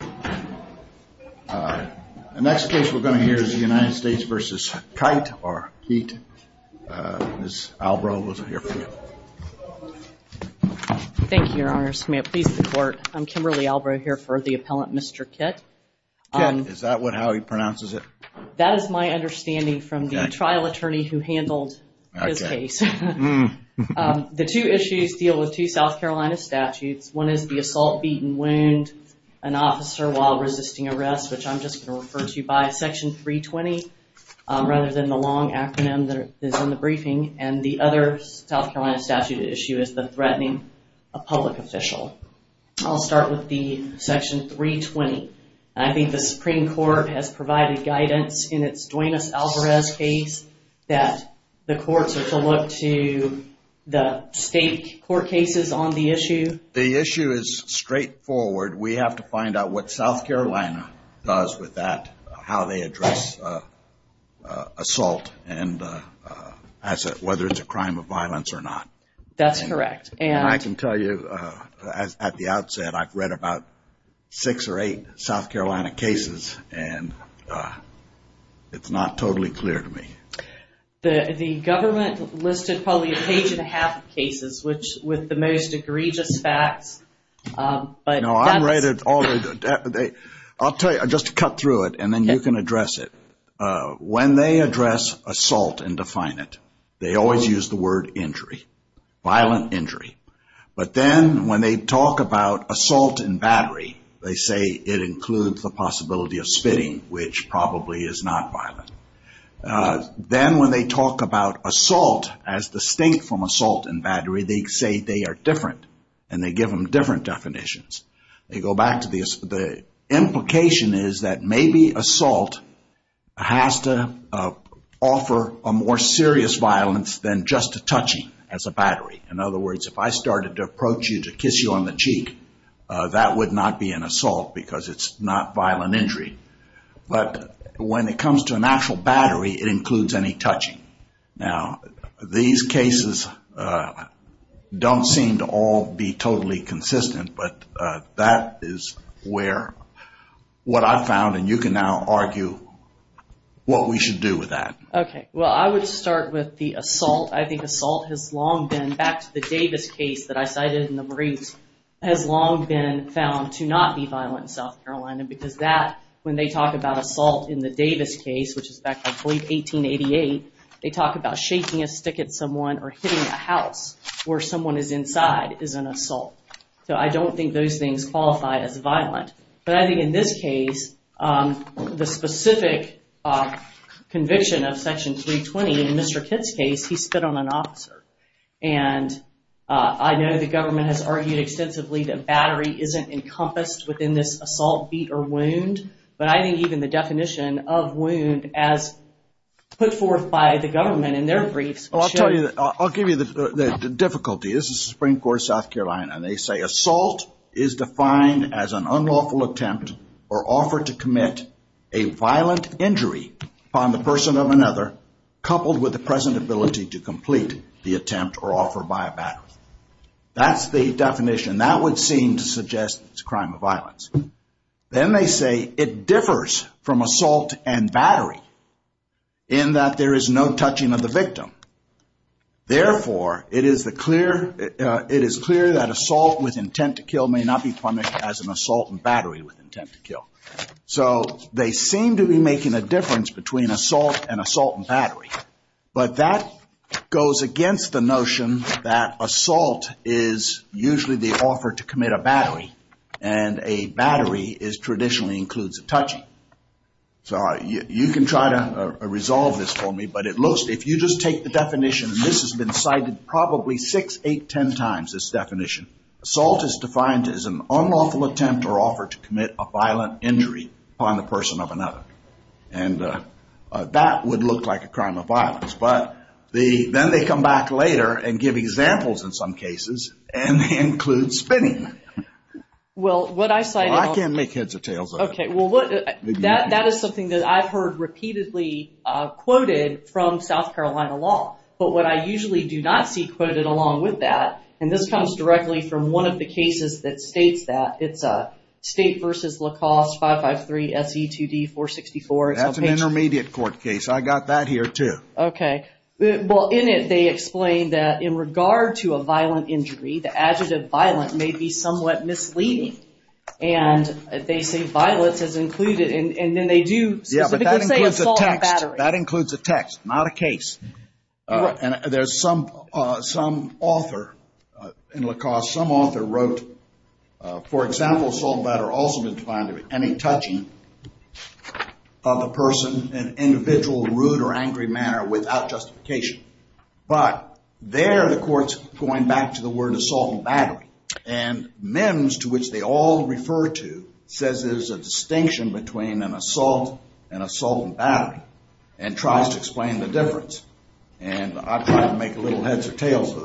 The next case we're going to hear is the United States v. Keitt. Ms. Albrow, we'll hear from you. Thank you, Your Honor. May it please the Court. I'm Kimberly Albrow here for the appellant, Mr. Keitt. Is that how he pronounces it? That is my understanding from the trial attorney who handled his case. The two issues deal with two South Carolina statutes. One is the assault, beat and wound. An officer while resisting arrest, which I'm just going to refer to by Section 320 rather than the long acronym that is in the briefing. And the other South Carolina statute issue is the threatening a public official. I'll start with the Section 320. I think the Supreme Court has provided guidance in its Duenas-Alvarez case that the courts are to look to the state court cases on the issue. The issue is straightforward. We have to find out what South Carolina does with that, how they address assault and whether it's a crime of violence or not. That's correct. And I can tell you at the outset I've read about six or eight South Carolina cases and it's not totally clear to me. The government listed probably a page and a half of cases with the most egregious facts. No, I've read it. I'll tell you, just to cut through it and then you can address it. When they address assault and define it, they always use the word injury, violent injury. But then when they talk about assault and battery, they say it includes the possibility of spitting, which probably is not violent. Then when they talk about assault as distinct from assault and battery, they say they are different and they give them different definitions. They go back to the implication is that maybe assault has to offer a more serious violence than just a touching as a battery. In other words, if I started to approach you to kiss you on the cheek, that would not be an assault because it's not violent injury. When it comes to an actual battery, it includes any touching. These cases don't seem to all be totally consistent, but that is what I've found and you can now argue what we should do with that. I would start with the assault. I think assault has long been, back to the Davis case that I cited in the briefs, has long been found to not be violent in South Carolina because that, when they talk about assault in the Davis case, which is back, I believe, 1888, they talk about shaking a stick at someone or hitting a house where someone is inside is an assault. I don't think those things qualify as violent, but I think in this case, the specific conviction of Section 320 in Mr. Kitt's case, he spit on an officer. I know the government has argued extensively that battery isn't encompassed within this assault, beat, or wound, but I think even the definition of wound as put forth by the government in their definition, they say assault is defined as an unlawful attempt or offer to commit a violent injury upon the person of another coupled with the present ability to complete the attempt or offer by a battery. That's the definition. That would seem to suggest it's a crime of violence. Then they say it differs from assault and battery in that there is no touching of the victim. Therefore, it is clear that assault with intent to kill may not be punished as an assault and battery with intent to kill. They seem to be making a difference between assault and assault and battery, but that goes against the notion that assault is usually the offer to commit a battery, and a battery traditionally includes a touching. You can try to resolve this for me, but it looks, if you just take the definition, and this has been cited probably six, eight, ten times, this definition. Assault is defined as an unlawful attempt or offer to commit a violent injury upon the person of another. That would look like a crime of violence, but then they come back later and give examples in some cases, and they include spinning. I can't make heads or tails of it. That is something that I've heard repeatedly quoted from South Carolina law, but what I usually do not see quoted along with that, and this comes directly from one of the cases that states that. It's State v. LaCoste 553 SE 2D 464. That's an intermediate court case. I got that here, too. Okay. Well, in it, they explain that in regard to a violent injury, the adjective violent may be somewhat misleading, and they say violence is included, and then they do specifically say assault and battery. That includes a text, not a case, and there's some author in LaCoste, some author wrote, for example, assault and battery also doesn't find any touching of a person in an individual rude or angry manner without justification, but there the court's going back to the word assault and battery, and Mims, to which they all refer to, says there's a distinction between an assault and assault and battery, and tries to explain the difference, and I've tried to make little heads or tails of that,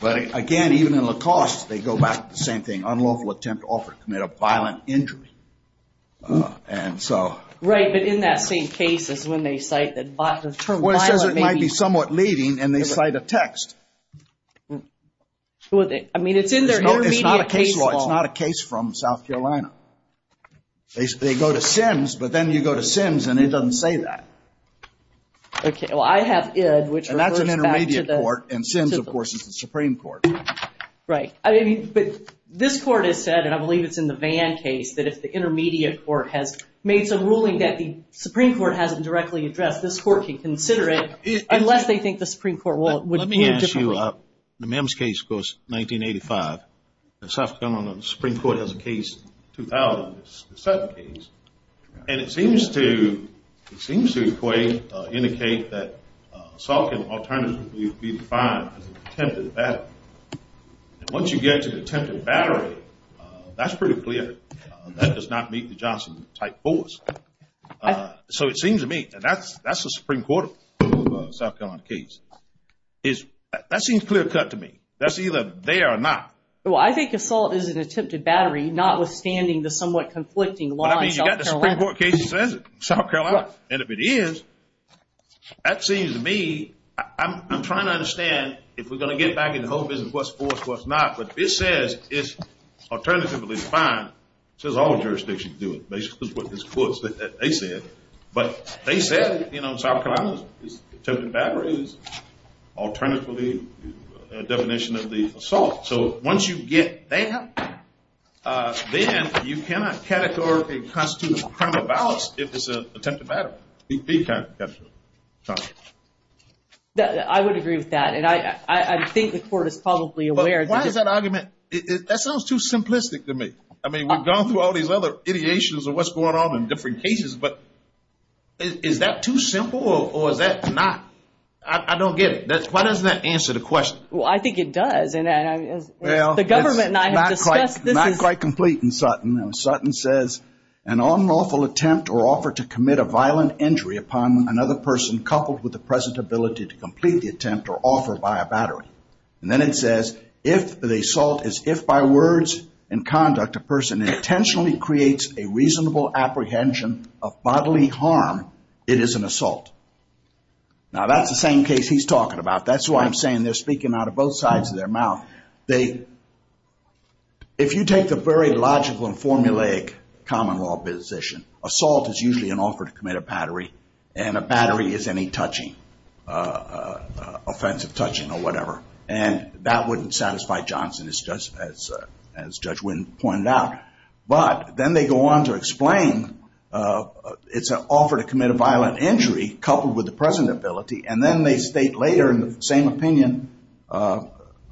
but again, even in LaCoste, they go back to the same thing, unlawful attempt to offer to commit a violent injury, and so... Right, but in that same case is when they cite that the term violent may be... Well, it says it might be somewhat leading, and they cite a text. I mean, it's in their intermediate case law. It's not a case from South Carolina. They go to Sims, but then you go to Sims, and it doesn't say that. Okay, well, I have Id, which refers back to the... And that's an intermediate court, and Sims, of course, is the Supreme Court. Right, but this court has said, and I believe it's in the Vann case, that if the intermediate court has made some ruling that the Supreme Court hasn't directly addressed, this court can consider it, unless they think the Supreme Court would... Let me ask you, in the Mims case, of course, 1985, the South Carolina Supreme Court has a case, 2000, the Sutton case, and it seems to equate, indicate that assault can alternatively be defined as an attempted battery, and once you get to attempted battery, that's pretty clear. That does not meet the Johnson type force, so it seems to me that that's the Supreme Court of South Carolina case. That seems clear-cut to me. That's either there or not. Well, I think assault is an attempted battery, notwithstanding the somewhat conflicting law in South Carolina. And if it is, that seems to me... I'm trying to understand if we're going to get back into the whole business of what's forced, what's not, but if it says it's alternatively defined, it says all jurisdictions do it. Basically, it's what this court said that they said. But they said, you know, South Carolina's attempted battery is alternatively a definition of the assault. So once you get there, then you cannot categorically constitute a crime of violence if it's an attempted battery. I would agree with that, and I think the court is probably aware. I mean, we've gone through all these other ideations of what's going on in different cases, but is that too simple, or is that not? I don't get it. Why doesn't that answer the question? Well, I think it does. Well, it's not quite complete in Sutton. Sutton says, an unlawful attempt or offer to commit a violent injury upon another person coupled with the present ability to complete the attempt or offer by a battery. And then it says, if the assault is if by words and conduct a person intentionally creates a reasonable apprehension of bodily harm, it is an assault. Now, that's the same case he's talking about. That's why I'm saying they're speaking out of both sides of their mouth. If you take the very logical and formulaic common law position, assault is usually an offer to commit a battery, and a battery is any touching, offensive touching or whatever. And that wouldn't satisfy Johnson, as Judge Wynn pointed out. But then they go on to explain it's an offer to commit a violent injury coupled with the present ability. And then they state later in the same opinion,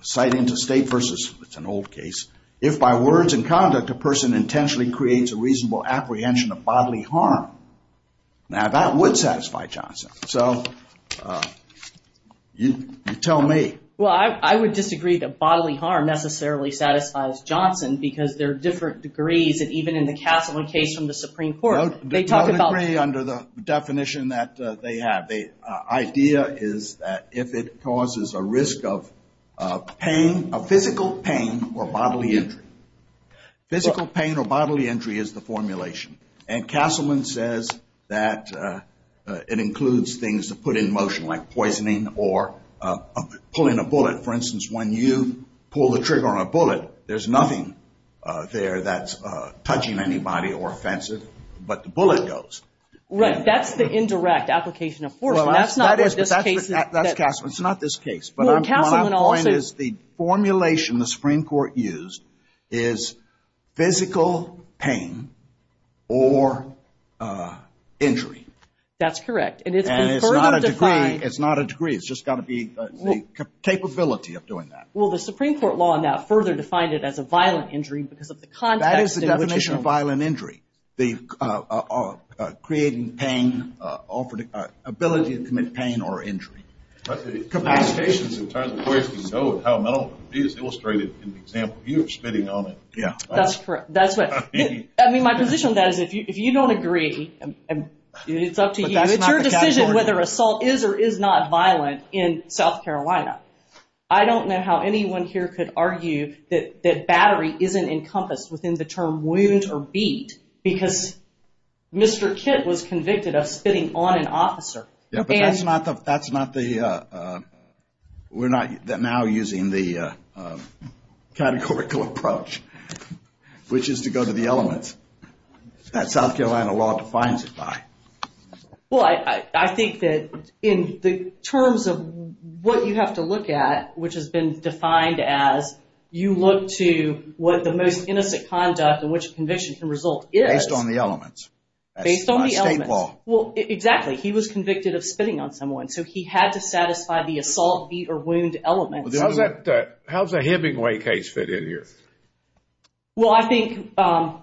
citing to state versus an old case, if by words and conduct, a person intentionally creates a reasonable apprehension of bodily harm. Now, that would satisfy Johnson. So you tell me. Well, I would disagree that bodily harm necessarily satisfies Johnson because there are different degrees. And even in the Castleman case from the Supreme Court, they talk about... No degree under the definition that they have. The idea is that if it causes a risk of pain, a physical pain or bodily injury. Physical pain or bodily injury is the formulation. And Castleman says that it includes things to put in motion, like poisoning or pulling a bullet. For instance, when you pull the trigger on a bullet, there's nothing there that's touching anybody or offensive. But the bullet goes. Right. That's the indirect application of force. That's Castleman. It's not this case. But my point is the formulation the Supreme Court used is physical pain or injury. That's correct. And it's been further defined... The Supreme Court law now further defined it as a violent injury because of the context... That is the definition of violent injury. They are creating pain, ability to commit pain or injury. That's correct. That's what... I mean, my position on that is if you don't agree, it's up to you. It's your decision whether it is not violent in South Carolina. I don't know how anyone here could argue that battery isn't encompassed within the term wound or beat because Mr. Kitt was convicted of spitting on an officer. That's not the... We're not now using the categorical approach, which is to go to the elements. That South Carolina law defines it by. I think that in the terms of what you have to look at, which has been defined as you look to what the most innocent conduct and which conviction can result is... Based on the elements. Based on the elements. State law. Exactly. He was convicted of spitting on someone. So he had to satisfy the assault, beat or wound elements. How does a Hemingway case fit in here? Well, I think from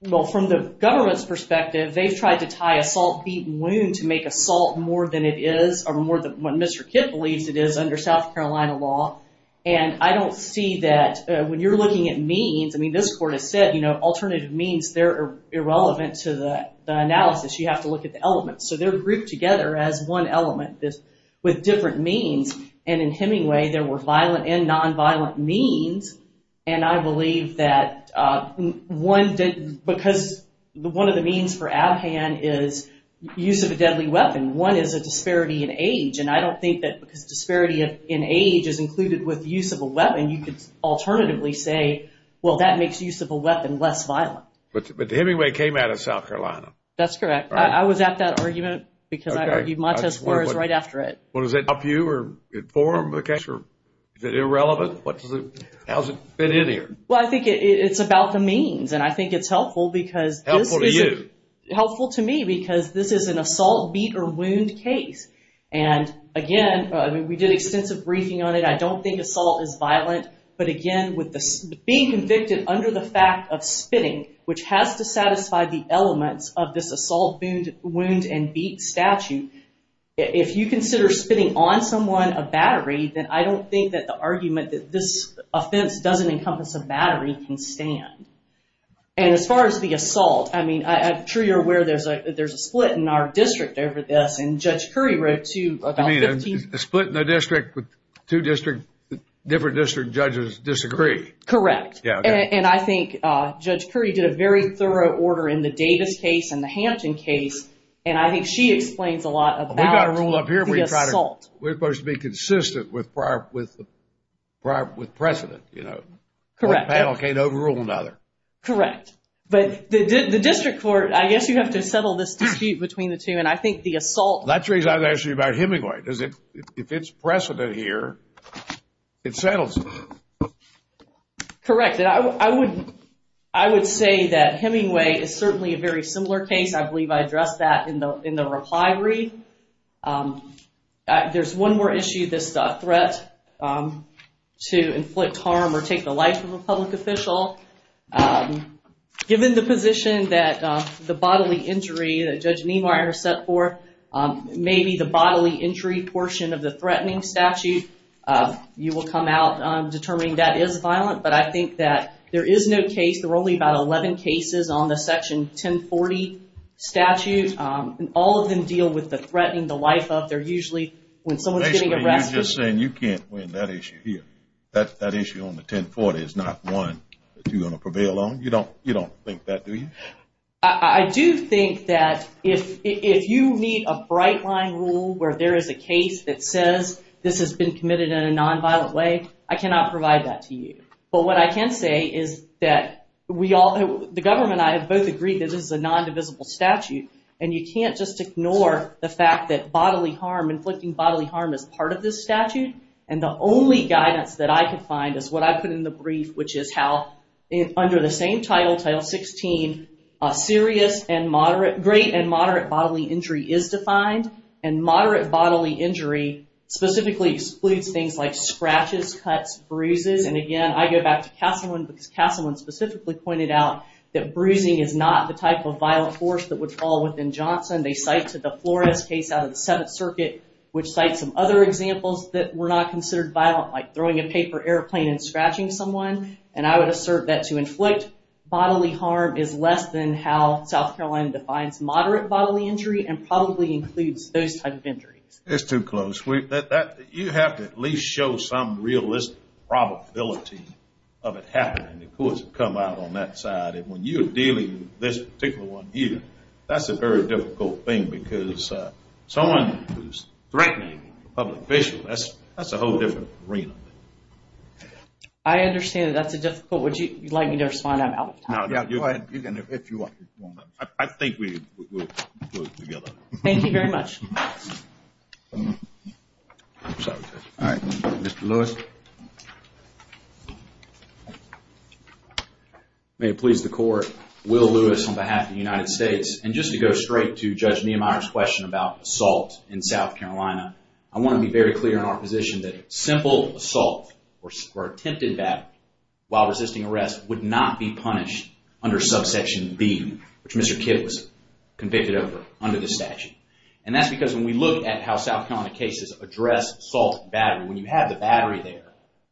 the government's perspective, they've tried to tie assault, beat and wound to make assault more than it is or more than what Mr. Kitt believes it is under South Carolina law. I don't see that when you're looking at means... I mean, this court has said alternative means, they're irrelevant to the analysis. You have to look at the elements. So they're grouped together as one element with different means. And in Hemingway, there were violent and nonviolent means. And I believe that one... Because one of the means for Abhan is use of a deadly weapon. One is a disparity in age. And I don't think that because disparity in age is included with use of a weapon, you could alternatively say, well, that makes use of a weapon less violent. But Hemingway came out of South Carolina. That's correct. I was at that argument because I argued Montez Flores right after it. Well, does that help you or inform the case or is it irrelevant? How does it fit in here? Well, I think it's about the means. And I think it's helpful because... Helpful to you? Helpful to me because this is an assault, beat or wound case. And again, I mean, we did extensive briefing on it. I don't think assault is violent. But again, being convicted under the fact of spitting, which has to satisfy the elements of this assault, wound and beat statute. If you consider spitting on someone a battery, then I don't think that the argument that this offense doesn't encompass a battery can stand. And as far as the assault, I mean, I'm sure you're aware there's a split in our district over this. And Judge Curry wrote to about 15... You mean a split in the district with two different district judges disagree? Correct. And I think Judge Curry did a very thorough order in the Davis case and the Hampton case. And I think she explains a lot about the assault. We're supposed to be consistent with precedent. One panel can't overrule another. Correct. But the district court, I guess you have to settle this dispute between the two. And I think the assault... That's the reason I asked you about Hemingway. If it's precedent here, it settles. Correct. I would say that Hemingway is certainly a very similar case. I believe I addressed that in the reply read. There's one more issue, this threat to inflict harm or take the life of a public official. Given the position that the bodily injury that Judge Niemeyer set forth, maybe the bodily injury portion of the threatening statute, you will come out determining that is violent. But I think that there is no case. There are only about 11 cases on the Section 1040 statute. And all of them deal with the threatening the life of. They're usually when someone's getting arrested... Basically you're just saying you can't win that issue here. That issue on the 1040 is not one that you're going to prevail on. You don't think that, do you? I do think that if you meet a bright line rule where there is a case that says this has been committed in a nonviolent way, I cannot provide that to you. But what I can say is that the government and I have both agreed that this is a bodily harm as part of this statute. And the only guidance that I could find is what I put in the brief, which is how under the same title, Title 16, serious and moderate, great and moderate bodily injury is defined. And moderate bodily injury specifically excludes things like scratches, cuts, bruises. And again, I go back to Castleman because Castleman specifically pointed out that bruising is not the type of which cites some other examples that were not considered violent, like throwing a paper airplane and scratching someone. And I would assert that to inflict bodily harm is less than how South Carolina defines moderate bodily injury and probably includes those type of injuries. It's too close. You have to at least show some realistic probability of it happening. The courts have come out on that side. And when you're dealing with this particular one here, that's a very difficult thing because someone who's threatening a public official, that's a whole different arena. I understand that that's a difficult one. Would you like me to respond? I'm out of time. I think we'll do it together. Thank you very much. Alright, Mr. Lewis. May it please the court. Will Lewis on behalf of the United States. And just to go straight to Judge Niemeyer's question about assault in South Carolina, I want to be very clear in our position that simple assault or attempted battery while resisting arrest would not be punished under subsection B, which Mr. Kidd was convicted over under the statute. And that's because when we look at how South Carolina cases address assault and battery, when you have the battery there,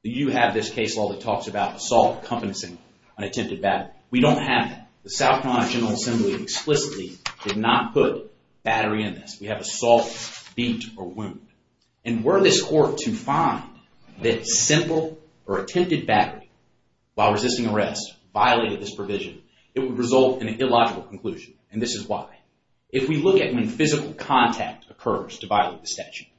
you have this case law that talks about assault encompassing an attempted battery. We don't have that. The South Carolina General Assembly explicitly did not put battery in this. We have assault, beat, or wound. And were this court to find that simple or attempted battery while resisting arrest violated this statute,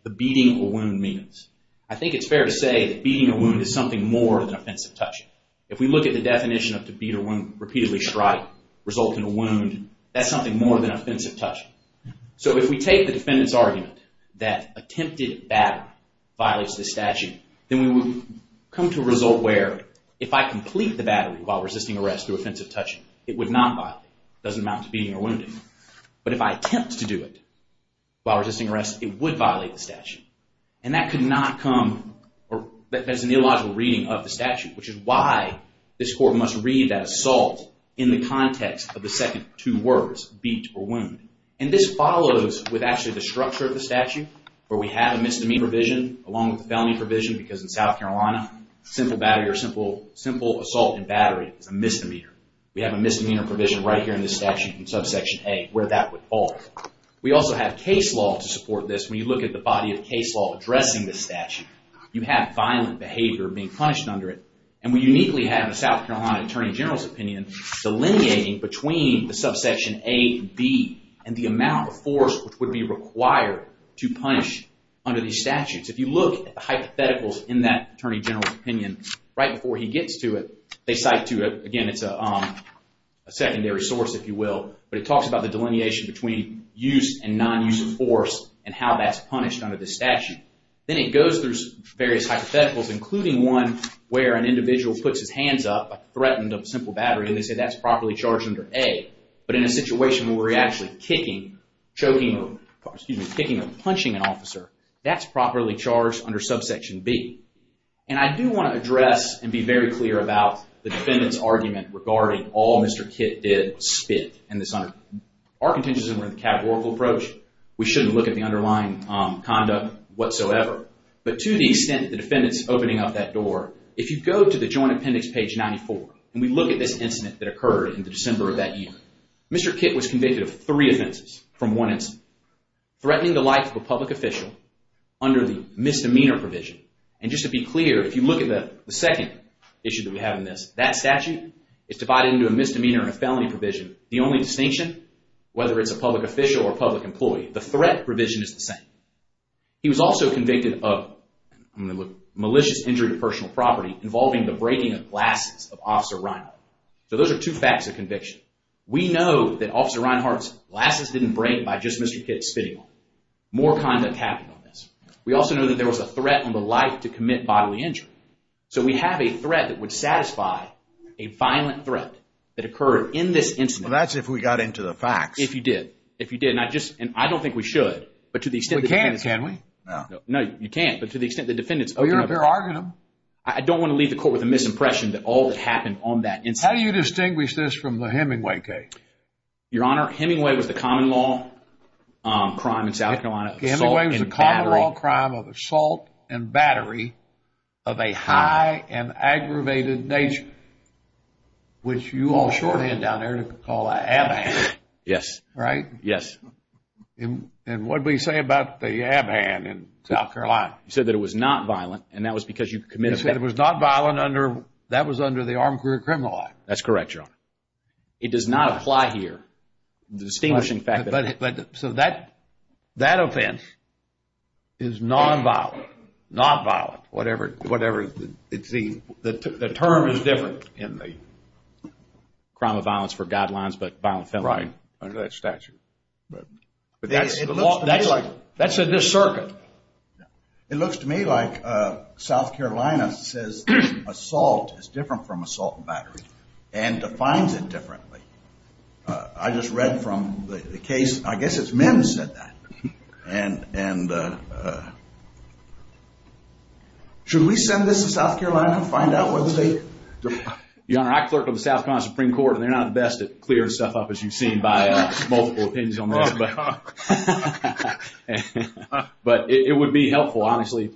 the beating or wound means. I think it's fair to say that beating or wound is something more than offensive touching. If we look at the definition of to beat or wound, repeatedly strike, result in a wound, that's something more than offensive touching. So if we take the defendant's argument that attempted battery violates this statute, then we would come to a result where if I complete the battery while resisting arrest through while resisting arrest, it would violate the statute. And that could not come as an illogical reading of the statute, which is why this court must read that assault in the context of the second two words, beat or wound. And this follows with actually the structure of the statute where we have a misdemeanor provision along with the felony provision because in South Carolina, simple assault and battery is a misdemeanor. We have a misdemeanor provision right here in this statute in subsection A where that would fall. We also have case law to support this. When you look at the body of case law addressing this statute, you have violent behavior being punished under it. And we uniquely have in the South Carolina Attorney General's opinion, delineating between the subsection A and B and the amount of force which would be required to punish under these statutes. If you look at the hypotheticals in that Attorney General's opinion, right before he gets to it, they cite to it. Again, it's a secondary source, if you will, but it talks about the delineation between use and non-use of force and how that's punished under the statute. Then it goes through various hypotheticals, including one where an individual puts his hands up, threatened of a simple battery, and they say that's properly charged under A. But in a situation where we're actually kicking, choking, or, excuse me, kicking or punching an officer, that's properly charged under subsection B. And I do want to address and be very clear about the defendant's argument regarding all Mr. Kitt did spit in this. Our intentions were in the categorical approach. We shouldn't look at the underlying conduct whatsoever. But to the extent that the defendant's opening up that door, if you go to the Joint Appendix, page 94, and we look at this incident that occurred in the December of that year, Mr. Kitt was convicted of three offenses from one incident. Threatening the life of a public official under the misdemeanor provision. And just to be clear, if you look at the second issue that we have in this, that statute is divided into a misdemeanor and a felony provision. The only distinction, whether it's a public official or a public employee, the threat provision is the same. He was also convicted of, I'm going to look, malicious injury to personal property involving the breaking of glasses of Officer Reinhart. So those are two facts of conviction. We know that Officer Reinhart's glasses didn't break by just Mr. Kitt spitting on them. More conduct happened on this. We also know that there was a threat on the life to commit bodily injury. So we have a threat that would satisfy a violent threat that occurred in this incident. That's if we got into the facts. If you did. If you did. And I don't think we should, but to the extent that the defendant's We can't, can we? No, you can't. But to the extent the defendant's... Oh, you're arguing them. I don't want to leave the court with a misimpression that all that happened on that incident. How do you distinguish this from the Hemingway case? Your Honor, Hemingway was the common law crime in South Carolina. Hemingway was the common law crime of assault and battery of a high and aggravated nature, which you all shorthand down there to call an abham. Yes. Right? Yes. And what do we say about the abham in South Carolina? You said that it was not violent, and that was because you committed... You said it was not violent under... that was under the armed career criminal law. That's correct, Your Honor. It does not apply here. The distinguishing fact that... So that offense is non-violent, not violent, whatever it seems... The term is different in the crime of violence for guidelines, but violent felon... That's right, under that statute. That's in this circuit. It looks to me like South Carolina says assault is different from assault and battery, and defines it differently. I just read from the case, I guess it's men who said that. And should we send this to South Carolina and find out whether they... Your Honor, I clerk on the South Carolina Supreme Court, and they're not the best at clearing stuff up, as you've seen by multiple opinions on this. But it would be helpful, honestly,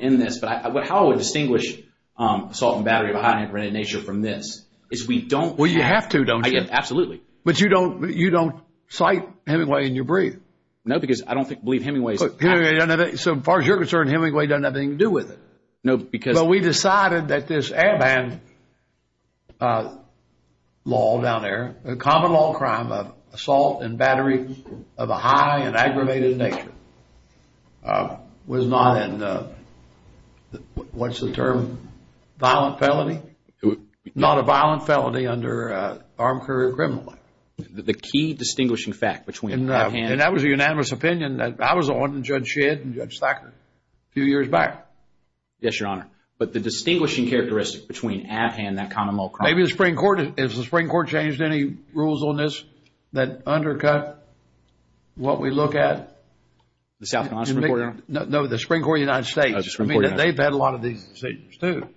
in this. But how I would distinguish assault and battery of a high-intensity nature from this is we don't... Well, you have to, don't you? Absolutely. But you don't cite Hemingway in your brief? No, because I don't believe Hemingway's... So as far as you're concerned, Hemingway doesn't have anything to do with it? No, because... So we decided that this Airband law down there, a common law crime of assault and battery of a high and aggravated nature, was not in the... What's the term? Violent felony? Not a violent felony under armed career criminal law. The key distinguishing fact between that and... And that was a unanimous opinion that I was on, and Judge Shedd, and Judge Thacker, a few years back. Yes, Your Honor. But the distinguishing characteristic between Abhan and that common law crime... Maybe the Supreme Court, has the Supreme Court changed any rules on this that undercut what we look at? The South Carolina Supreme Court, Your Honor? No, the Supreme Court of the United States. The Supreme Court of the United States. I mean, they've had a lot of these decisions, too.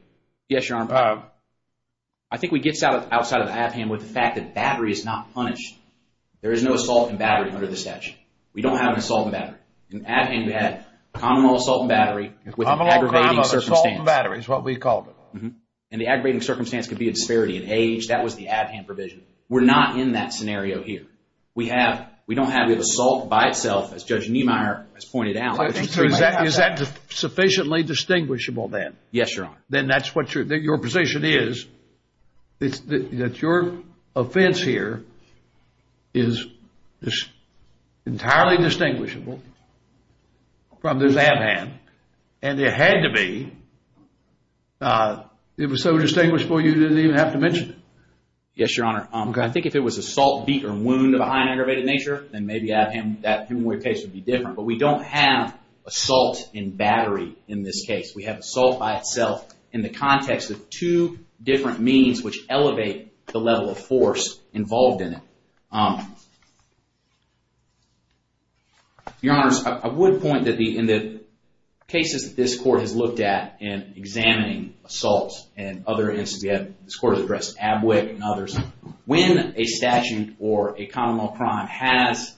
Yes, Your Honor. I think we get outside of Abhan with the fact that battery is not punished. There is no assault and battery under the statute. We don't have an assault and battery. In Abhan, we had a common law assault and battery with an aggravating circumstance. Common law crime of assault and battery is what we called it. And the aggravating circumstance could be a disparity in age. That was the Abhan provision. We're not in that scenario here. We don't have the assault by itself, as Judge Niemeyer has pointed out. Is that sufficiently distinguishable then? Yes, Your Honor. Then that's what your position is. It's that your offense here is entirely distinguishable from this Abhan. And it had to be. It was so distinguishable you didn't even have to mention it. Yes, Your Honor. I think if it was assault, beat, or wound of a high and aggravated nature, then maybe Abhan, that case would be different. But we don't have assault and battery in this case. We have assault by itself in the context of two different means which elevate the level of force involved in it. Your Honors, I would point that in the cases that this court has looked at in examining assaults and other instances, this court has addressed Abwick and others, when a statute or a common law crime has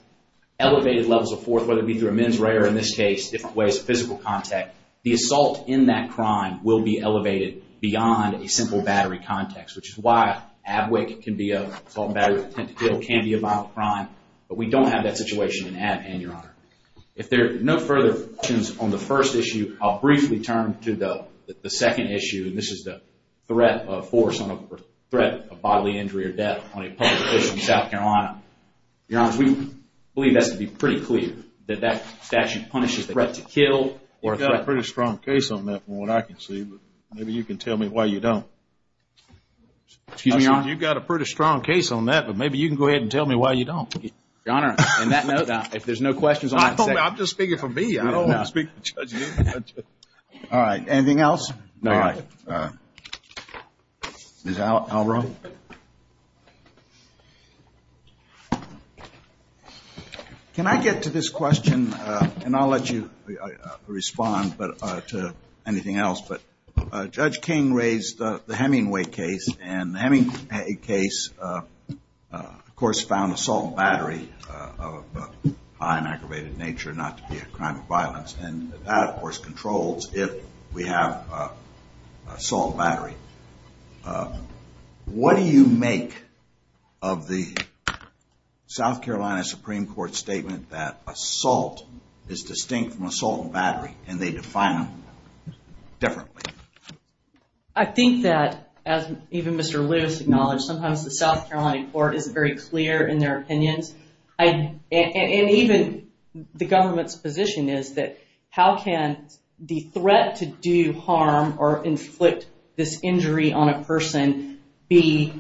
elevated levels of force, whether it be through a mens rea or in this case different ways of physical contact, the assault in that crime will be elevated beyond a simple battery context, which is why Abwick can be an assault and battery attempt to kill, can be a violent crime. But we don't have that situation in Abhan, Your Honor. If there are no further questions on the first issue, I'll briefly turn to the second issue. This is the threat of force on a threat of bodily injury or death on a public place in South Carolina. Your Honors, we believe that's to be pretty clear, that that statute punishes the threat to kill. You've got a pretty strong case on that from what I can see, but maybe you can tell me why you don't. Excuse me, Your Honor? You've got a pretty strong case on that, but maybe you can go ahead and tell me why you don't. Your Honor, on that note, if there's no questions on that. I'm just speaking for me. I don't want to speak for Judge Newton. All right. Anything else? No, Your Honor. Is Al wrong? No. Can I get to this question? And I'll let you respond to anything else. But Judge King raised the Hemingway case. And the Hemingway case, of course, found assault and battery of a high and aggravated nature not to be a crime of violence. What do you make of the South Carolina Supreme Court statement that assault is distinct from assault and battery, and they define them differently? I think that, as even Mr. Lewis acknowledged, sometimes the South Carolina court is very clear in their opinions. And even the government's position is that how can the threat to do harm or inflict this injury on a person be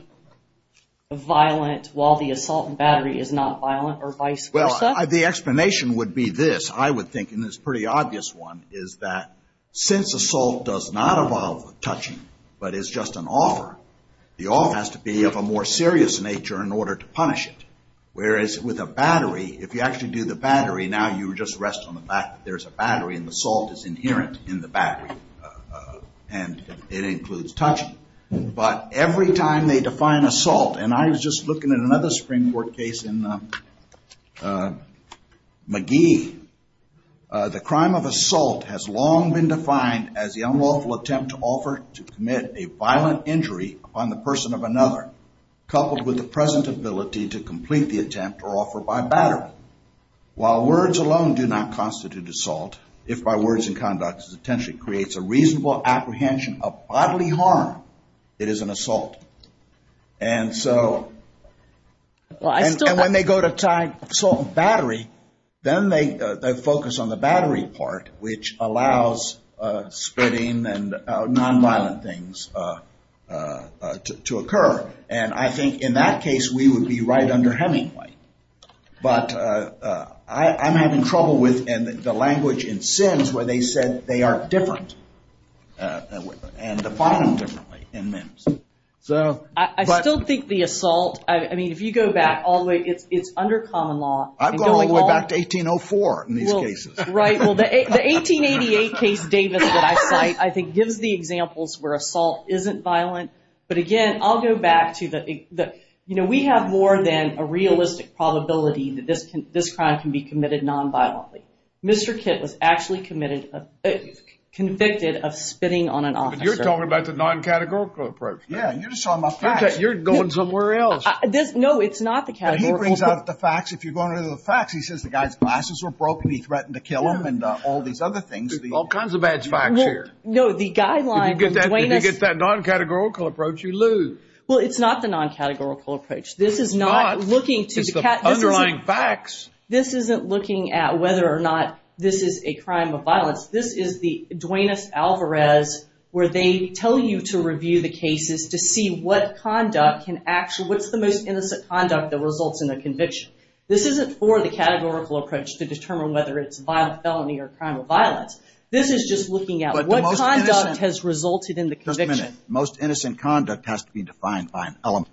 violent while the assault and battery is not violent, or vice versa? Well, the explanation would be this. I would think, and it's a pretty obvious one, is that since assault does not involve touching but is just an offer, the offer has to be of a more serious nature in order to punish it. Whereas with a battery, if you actually do the battery, now you just rest on the fact that there's a battery and the assault is inherent in the battery, and it includes touching. But every time they define assault, and I was just looking at another Supreme Court case in Magee, the crime of assault has long been defined as the unlawful attempt to offer to commit a violent injury on the person of another, coupled with the present ability to complete the attempt or offer by battery. While words alone do not constitute assault, if by words and conduct it potentially creates a reasonable apprehension of bodily harm, it is an assault. And so when they go to tie assault and battery, then they focus on the battery part, which allows spitting and nonviolent things to occur. And I think in that case we would be right under Hemingway. But I'm having trouble with the language in Sims where they said they are different and define them differently in Mims. I still think the assault, I mean if you go back all the way, it's under common law. I've gone all the way back to 1804 in these cases. Right, well the 1888 case Davis that I cite, I think gives the examples where assault isn't violent. But again, I'll go back to the, you know, we have more than a realistic probability that this crime can be committed nonviolently. Mr. Kitt was actually convicted of spitting on an officer. But you're talking about the non-categorical approach. Yeah, you're just talking about facts. You're going somewhere else. No, it's not the categorical. He brings out the facts. If you go under the facts, he says the guy's glasses were broken, he threatened to kill him and all these other things. There's all kinds of bad facts here. No, the guideline of Duane... If you get that non-categorical approach, you lose. Well, it's not the non-categorical approach. This is not looking to... It's the underlying facts. This isn't looking at whether or not this is a crime of violence. This is the Duane S. Alvarez where they tell you to review the cases to see what conduct can actually, what's the most innocent conduct that results in a conviction. This isn't for the categorical approach to determine whether it's a violent felony or a crime of violence. This is just looking at what conduct has resulted in the conviction. Just a minute. Most innocent conduct has to be defined by an element.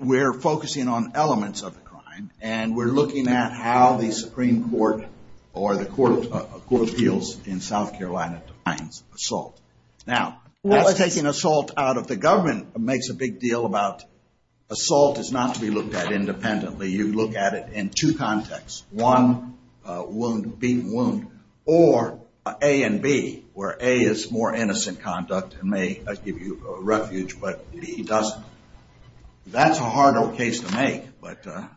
We're focusing on elements of the crime, and we're looking at how the Supreme Court or the Court of Appeals in South Carolina defines assault. Now, taking assault out of the government makes a big deal about... Assault is not to be looked at independently. You look at it in two contexts. One, beaten wound, or A and B, where A is more innocent conduct and may give you refuge, but B doesn't. That's a harder case to make, but the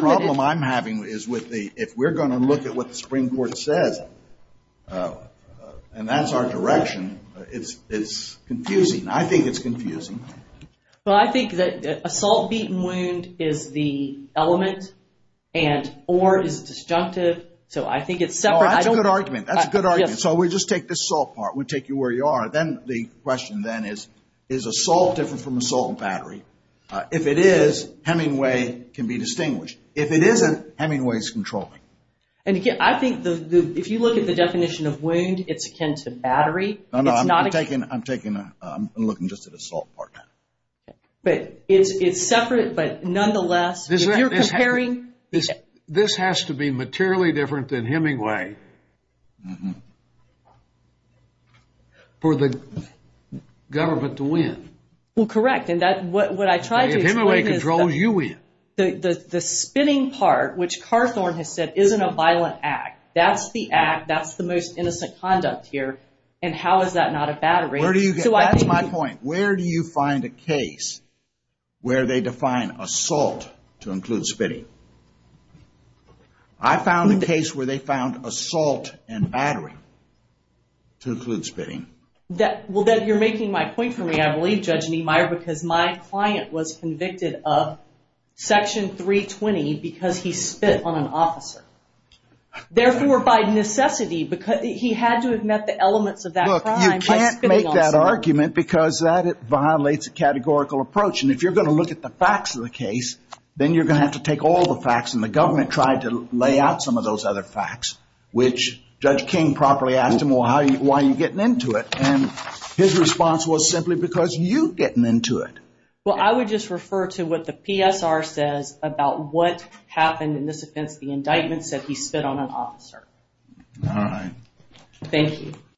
problem I'm having is if we're going to look at what the Supreme Court says, and that's our direction, it's confusing. I think it's confusing. Well, I think that assault, beaten wound is the element, and or is it disjunctive. So I think it's separate. That's a good argument. That's a good argument. So we just take this assault part. We take you where you are. Then the question then is, is assault different from assault and battery? If it is, Hemingway can be distinguished. If it isn't, Hemingway is controlling. And again, I think if you look at the definition of wound, it's akin to battery. I'm looking just at assault part. But it's separate, but nonetheless. If you're comparing. This has to be materially different than Hemingway for the government to win. Well, correct, and what I tried to explain is that. If Hemingway controls, you win. The spinning part, which Carthorne has said, isn't a violent act. That's the act. And how is that not a battery? That's my point. Where do you find a case where they define assault to include spitting? I found a case where they found assault and battery to include spitting. You're making my point for me, I believe, Judge Niemeyer, because my client was convicted of Section 320 because he spit on an officer. Therefore, by necessity, he had to have met the elements of that crime. You can't make that argument because that violates a categorical approach. And if you're going to look at the facts of the case, then you're going to have to take all the facts. And the government tried to lay out some of those other facts, which Judge King properly asked him, well, why are you getting into it? And his response was simply because you're getting into it. Well, I would just refer to what the PSR says about what happened in this offense. The indictment said he spit on an officer. All right. Thank you.